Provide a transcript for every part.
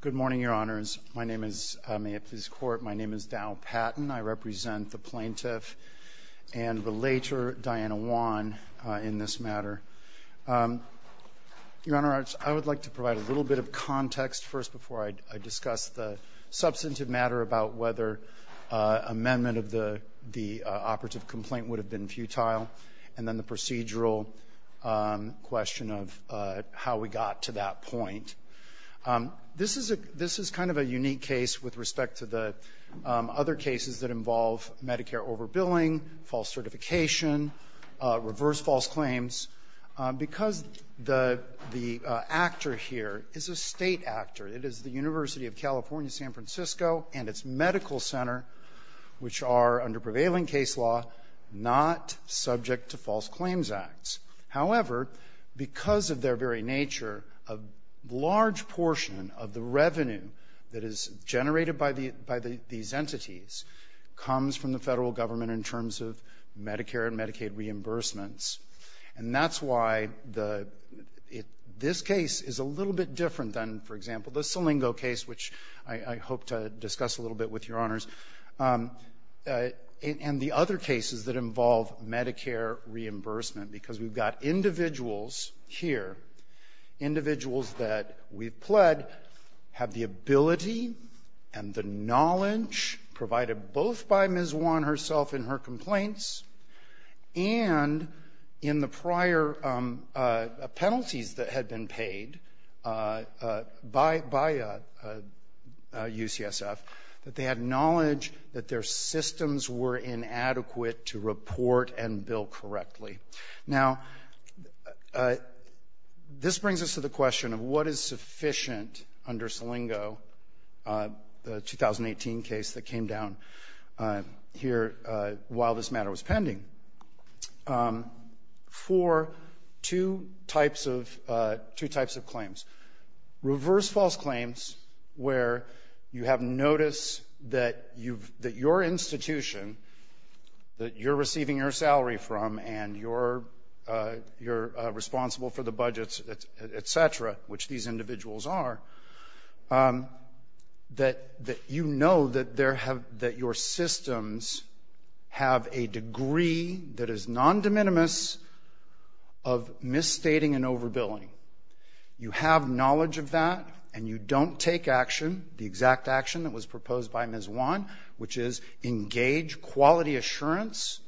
Good morning, Your Honors. My name is Daryl Patton. I represent the plaintiff and relator Diana Juan in this matter. Your Honor, I would like to provide a little bit of context first before I discuss the substantive matter about whether amendment of the operative complaint would have been futile, and then the procedural question of how we got to that point. This is kind of a unique case with respect to the other cases that involve Medicare overbilling, false certification, reverse false claims. Because the actor here is a state actor, it is the University of California, San Francisco, and its medical center, which are under prevailing case law, not subject to false claims acts. However, because of their very nature, a large portion of the revenue that is generated by these entities comes from the federal government in terms of Medicare and Medicaid reimbursements. And that's why this case is a little bit different than, for example, the Selingo case, which I hope to discuss a little bit with Your Honors. And the other cases that involve Medicare reimbursement, because we've got individuals here, individuals that we've pled, have the ability and the knowledge provided both by Ms. Juan herself in her complaints and in the prior penalties that had been paid by UCSF, that they had knowledge that their systems were inadequate to report and bill correctly. Now, this brings us to the question of what is sufficient under Selingo, the 2018 case that came down here while this matter was pending, for two types of claims. Reverse false claims, where you have notice that your institution, that you're receiving your salary from and you're responsible for the budgets, et cetera, which these individuals are, that you know that your systems have a degree that is non-de minimis of misstating and overbilling. You have knowledge of that and you don't take action, the exact action that was proposed by Ms. Juan, which is engage quality assurance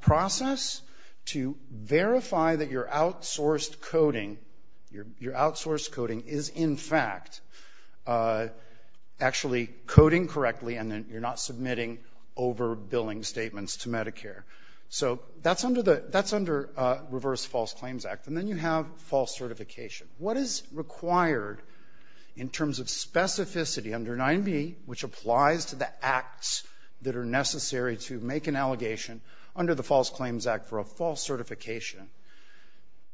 process to verify that your outsourced coding is in fact actually coding correctly and that you're not submitting overbilling statements to Medicare. So that's under Reverse False Claims Act. And then you have false certification. What is required in terms of specificity under 9B, which applies to the acts that are necessary to make an allegation under the False Claims Act for a false certification?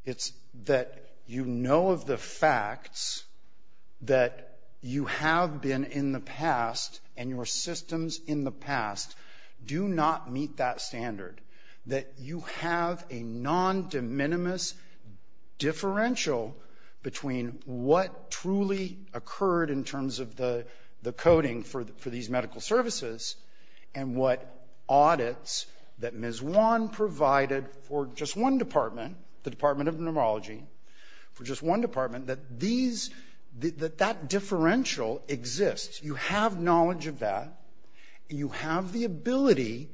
It's that you know of the facts that you have been in the past and your systems in the past do not meet that standard, that you have a non-de minimis differential between what truly occurred in terms of the coding for these medical services and what audits that Ms. Juan provided for just one department, the Department of Neurology, for just one department, that that differential exists. You have knowledge of that and you have the ability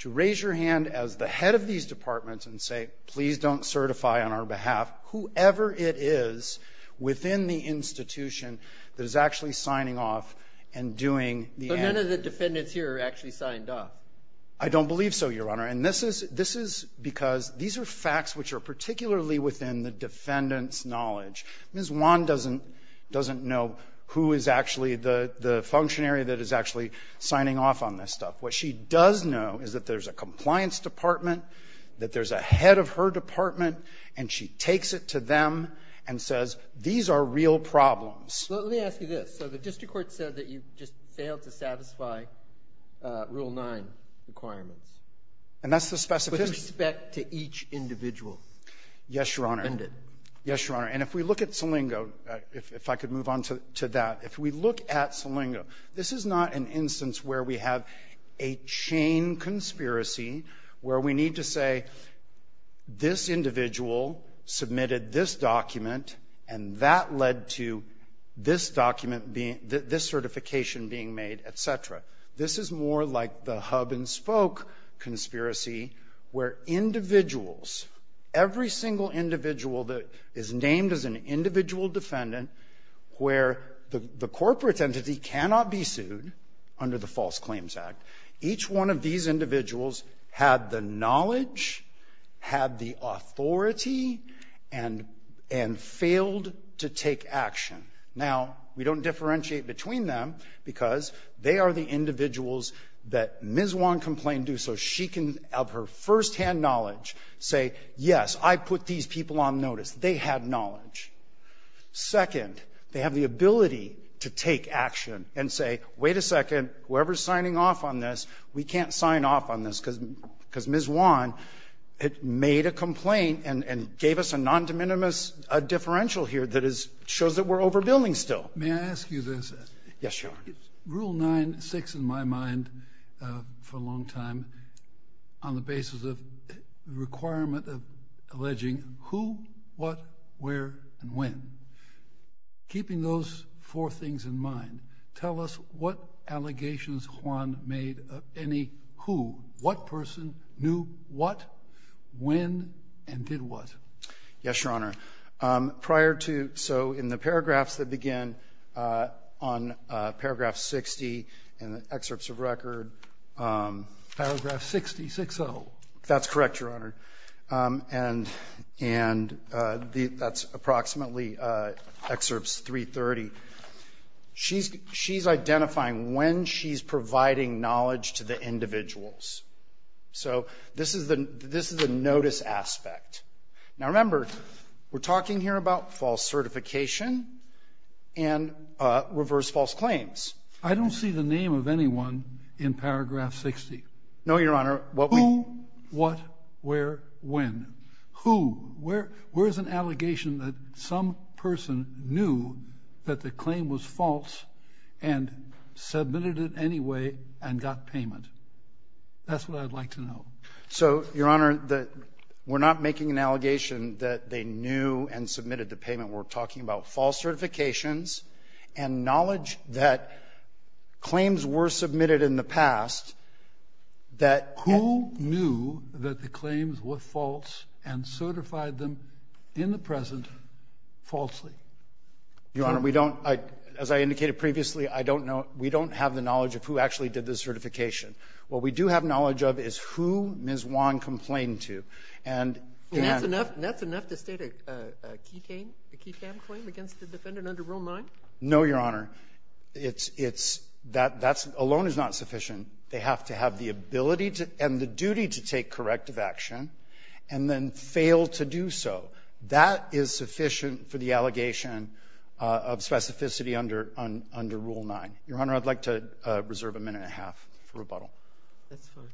to raise your hand as the head of these departments and say, please don't certify on our behalf whoever it is within the institution that is actually signing off and doing the answer. So none of the defendants here actually signed off? I don't believe so, Your Honor. And this is because these are facts which are particularly within the defendant's knowledge. Ms. Juan doesn't know who is actually the functionary that is actually signing off on this stuff. What she does know is that there's a compliance department, that there's a head of her department, and she takes it to them and says, these are real problems. So let me ask you this. So the district court said that you just failed to satisfy Rule 9 requirements. And that's the specificity. With respect to each individual. Yes, Your Honor. And if we look at Salingo, if I could move on to that. If we look at Salingo, this is not an instance where we have a chain conspiracy where we need to say this individual submitted this document and that led to this document being, this certification being made, et cetera. This is more like the hub-and-spoke conspiracy where individuals, every single individual that is named as an individual defendant where the corporate entity cannot be sued under the False Claims Act, each one of these individuals had the knowledge, had the authority, and failed to take action. Now, we don't differentiate between them because they are the individuals that Ms. Wan complained to so she can, of her firsthand knowledge, say, yes, I put these people on notice. They had knowledge. Second, they have the ability to take action and say, wait a second, whoever's signing off on this, we can't sign off on this because Ms. Wan made a complaint and gave us a condominuous differential here that shows that we're overbuilding still. May I ask you this? Yes, Your Honor. Rule 9-6 in my mind for a long time, on the basis of the requirement of alleging who, what, where, and when, keeping those four things in mind, tell us what allegations Juan made of any who, what person, knew what, when, and did what? Yes, Your Honor. Prior to, so in the paragraphs that begin on paragraph 60 in the excerpts of record. Paragraph 60, 6-0. That's correct, Your Honor. And that's approximately excerpts 330. She's identifying when she's providing knowledge to the individuals. So this is the notice aspect. Now remember, we're talking here about false certification and reverse false claims. I don't see the name of anyone in paragraph 60. No, Your Honor. Who, what, where, when. Who, where is an allegation that some person knew that the claim was false and submitted it anyway and got payment? That's what I'd like to know. So, Your Honor, we're not making an allegation that they knew and submitted the payment. We're talking about false certifications and knowledge that claims were submitted in the past that. Who knew that the claims were false and certified them in the present falsely? Your Honor, we don't, as I indicated previously, I don't know, we don't have the knowledge of who actually did the certification. What we do have knowledge of is who Ms. Wong complained to. And that's enough, that's enough to state a ketamine, a ketamine claim against the defendant under Rule 9? No, Your Honor. It's, it's, that, that alone is not sufficient. They have to have the ability and the duty to take corrective action and then fail to do so. That is sufficient for the allegation of specificity under, under Rule 9. Your Honor, I'd like to reserve a minute and a half for rebuttal. That's fine.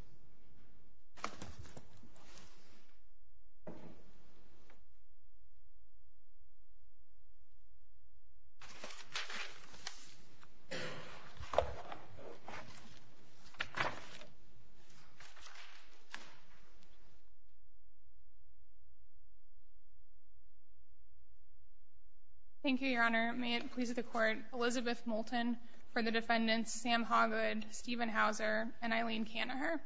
Thank you, Your Honor. May it please the Court. I'm here, Elizabeth Moulton, for the defendants Sam Hoggood, Stephen Hauser, and Eileen Kanaher.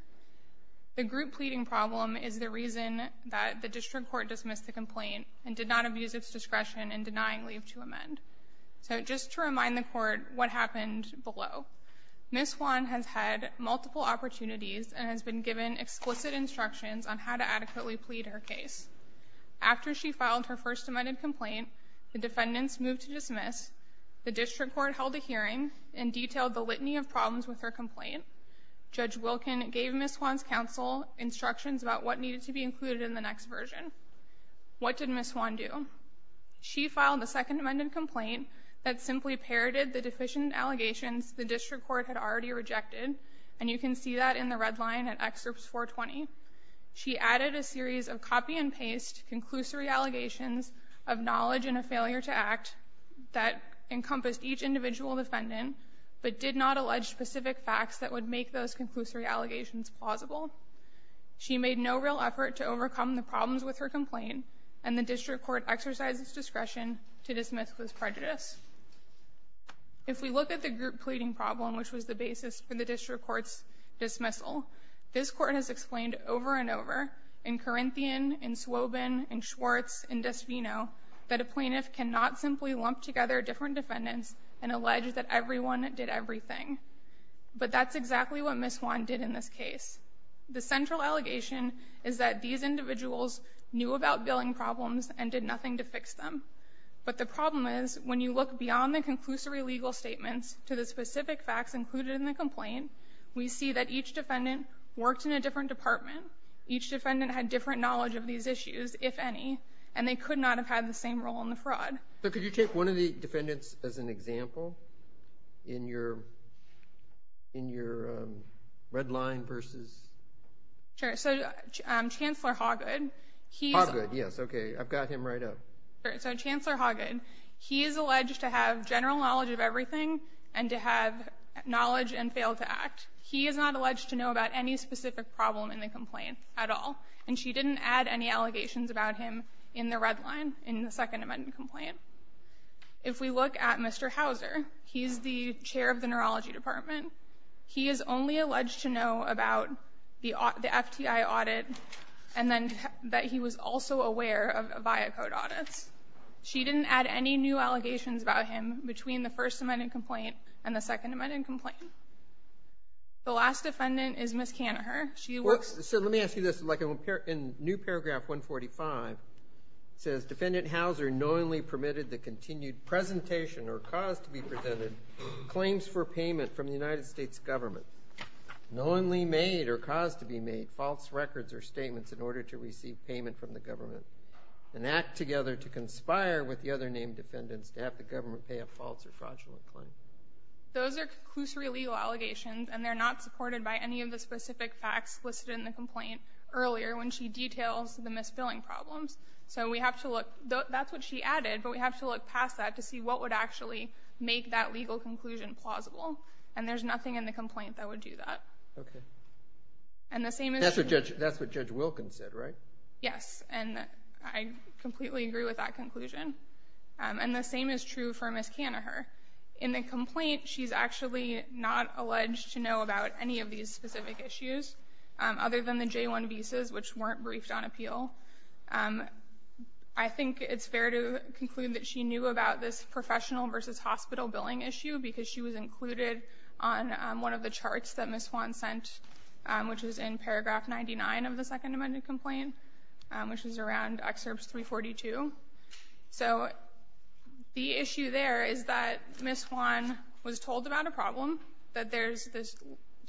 The group pleading problem is the reason that the District Court dismissed the complaint and did not abuse its discretion in denying leave to amend. So just to remind the Court what happened below. Ms. Wong has had multiple opportunities and has been given explicit instructions on how to adequately plead her case. After she filed her first amended complaint, the defendants moved to dismiss. The District Court held a hearing and detailed the litany of problems with her complaint. Judge Wilkin gave Ms. Wong's counsel instructions about what needed to be included in the next version. What did Ms. Wong do? She filed the second amended complaint that simply parroted the deficient allegations the District Court had already rejected, and you can see that in the red line at Excerpts 420. She added a series of copy-and-paste conclusory allegations of knowledge and a failure to act that encompassed each individual defendant, but did not allege specific facts that would make those conclusory allegations plausible. She made no real effort to overcome the problems with her complaint, and the District Court exercised its discretion to dismiss those prejudices. If we look at the group pleading problem, which was the basis for the District Court's over and over, in Corinthian, in Swobin, in Schwartz, in Desvino, that a plaintiff cannot simply lump together different defendants and allege that everyone did everything. But that's exactly what Ms. Wong did in this case. The central allegation is that these individuals knew about billing problems and did nothing to fix them. But the problem is, when you look beyond the conclusory legal statements to the specific defendant worked in a different department, each defendant had different knowledge of these issues, if any, and they could not have had the same role in the fraud. So could you take one of the defendants as an example in your red line versus? Sure. So, Chancellor Hoggad, he's- Hoggad, yes. Okay. I've got him right up. Sure. So, Chancellor Hoggad, he is alleged to have general knowledge of everything and to have knowledge and fail to act. He is not alleged to know about any specific problem in the complaint at all, and she didn't add any allegations about him in the red line, in the Second Amendment complaint. If we look at Mr. Hauser, he's the chair of the neurology department. He is only alleged to know about the FTI audit and then that he was also aware of Viacode audits. She didn't add any new allegations about him between the First Amendment complaint and the Second Amendment complaint. The last defendant is Ms. Kanaher. She works- So, let me ask you this. In new paragraph 145, it says, Defendant Hauser knowingly permitted the continued presentation or cause to be presented claims for payment from the United States government, knowingly made or cause to be made false records or statements in order to receive payment from the government, and act together to conspire with the other named defendants to have the Those are conclusory legal allegations and they're not supported by any of the specific facts listed in the complaint earlier when she details the misbilling problems. So we have to look, that's what she added, but we have to look past that to see what would actually make that legal conclusion plausible. And there's nothing in the complaint that would do that. And the same is true- That's what Judge Wilkins said, right? Yes, and I completely agree with that conclusion. And the same is true for Ms. Kanaher. In the complaint, she's actually not alleged to know about any of these specific issues other than the J-1 visas, which weren't briefed on appeal. I think it's fair to conclude that she knew about this professional versus hospital billing issue because she was included on one of the charts that Ms. Juan sent, which was in paragraph 99 of the second amendment complaint, which is around excerpts 342. So the issue there is that Ms. Juan was told about a problem, that there's this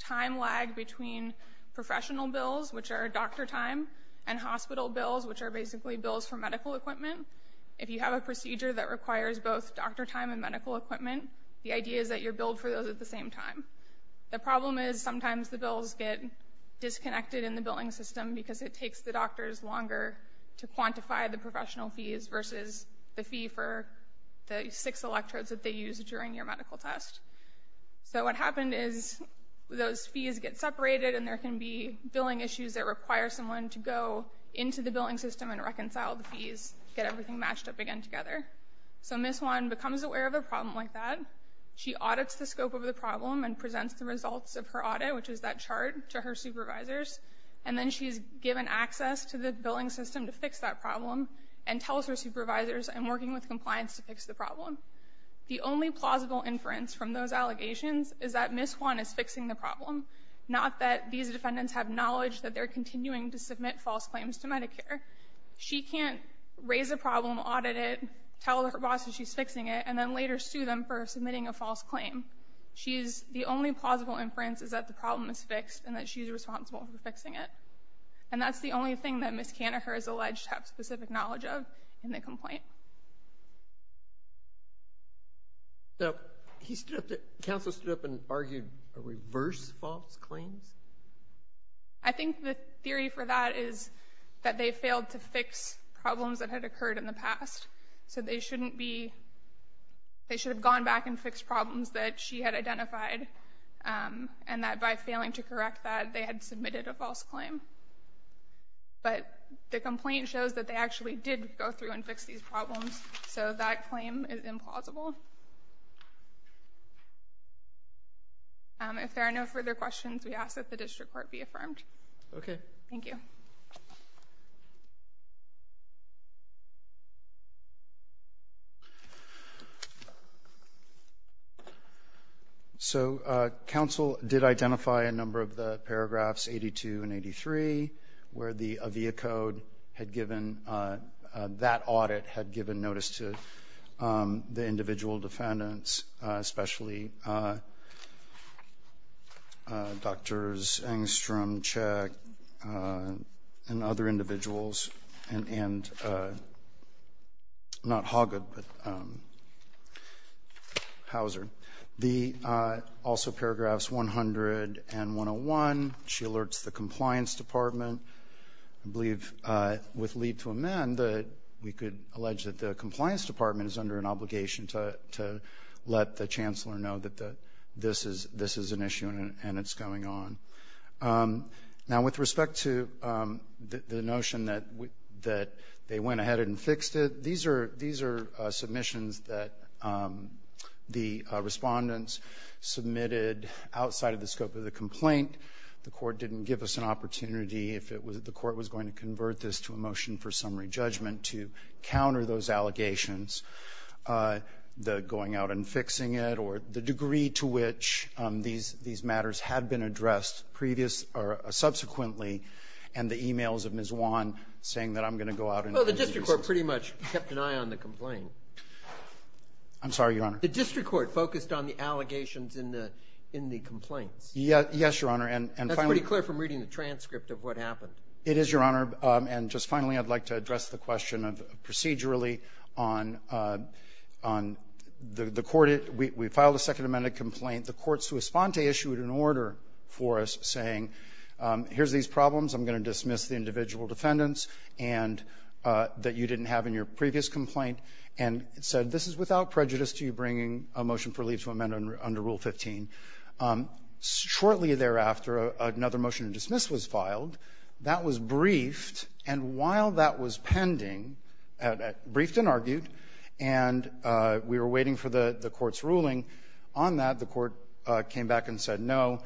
time lag between professional bills, which are doctor time, and hospital bills, which are basically bills for medical equipment. If you have a procedure that requires both doctor time and medical equipment, the idea is that you're billed for those at the same time. The problem is sometimes the bills get disconnected in the billing system because it takes the fees versus the fee for the six electrodes that they use during your medical test. So what happened is those fees get separated and there can be billing issues that require someone to go into the billing system and reconcile the fees, get everything matched up again together. So Ms. Juan becomes aware of a problem like that. She audits the scope of the problem and presents the results of her audit, which is that chart to her supervisors, and then she's given access to the billing system to fix that problem and tells her supervisors and working with compliance to fix the problem. The only plausible inference from those allegations is that Ms. Juan is fixing the problem, not that these defendants have knowledge that they're continuing to submit false claims to Medicare. She can't raise a problem, audit it, tell her boss that she's fixing it, and then later sue them for submitting a false claim. The only plausible inference is that the problem is fixed and that she's responsible for fixing it. And that's the only thing that Ms. Kanaher is alleged to have specific knowledge of in the complaint. So he stood up to, counsel stood up and argued reverse false claims? I think the theory for that is that they failed to fix problems that had occurred in the past. So they shouldn't be, they should have gone back and fixed problems that she had identified and that by failing to correct that, they had submitted a false claim. But the complaint shows that they actually did go through and fix these problems. So that claim is implausible. If there are no further questions, we ask that the district court be affirmed. Okay. Thank you. Thank you. So counsel did identify a number of the paragraphs 82 and 83 where the AVIA code had given, that and other individuals and, and not Hoggett, but Houser, the also paragraphs 100 and 101. She alerts the compliance department, I believe with lead to amend that we could allege that the compliance department is under an obligation to, to let the chancellor know that this is, this is an issue and it's going on. Now, with respect to the notion that, that they went ahead and fixed it, these are, these are submissions that the respondents submitted outside of the scope of the complaint. The court didn't give us an opportunity if it was, the court was going to convert this to a motion for summary judgment to counter those allegations, the going out and fixing it or the degree to which these, these matters had been addressed previous or subsequently. And the emails of Ms. Juan saying that I'm going to go out and the district court pretty much kept an eye on the complaint. I'm sorry, Your Honor. The district court focused on the allegations in the, in the complaints. Yeah. Yes, Your Honor. And that's pretty clear from reading the transcript of what happened. It is Your Honor. And just finally, I'd like to address the question of procedurally on, on the, the court. We filed a second amended complaint. The courts who respond to issued an order for us saying, here's these problems. I'm going to dismiss the individual defendants and that you didn't have in your previous complaint and said, this is without prejudice to you bringing a motion for leave to amend under Rule 15. Shortly thereafter, another motion to dismiss was filed. That was briefed. And while that was pending, briefed and argued, and we were waiting for the court's ruling on that, the court came back and said, no,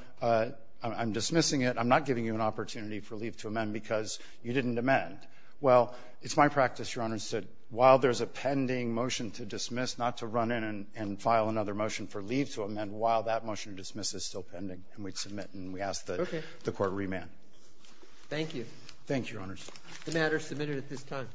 I'm dismissing it. I'm not giving you an opportunity for leave to amend because you didn't amend. Well, it's my practice, Your Honor, to while there's a pending motion to dismiss, not to run in and file another motion for leave to amend while that motion to dismiss is still pending. And we'd submit and we ask that the court remand. Thank you. Thank you, Your Honors. The matter is submitted at this time.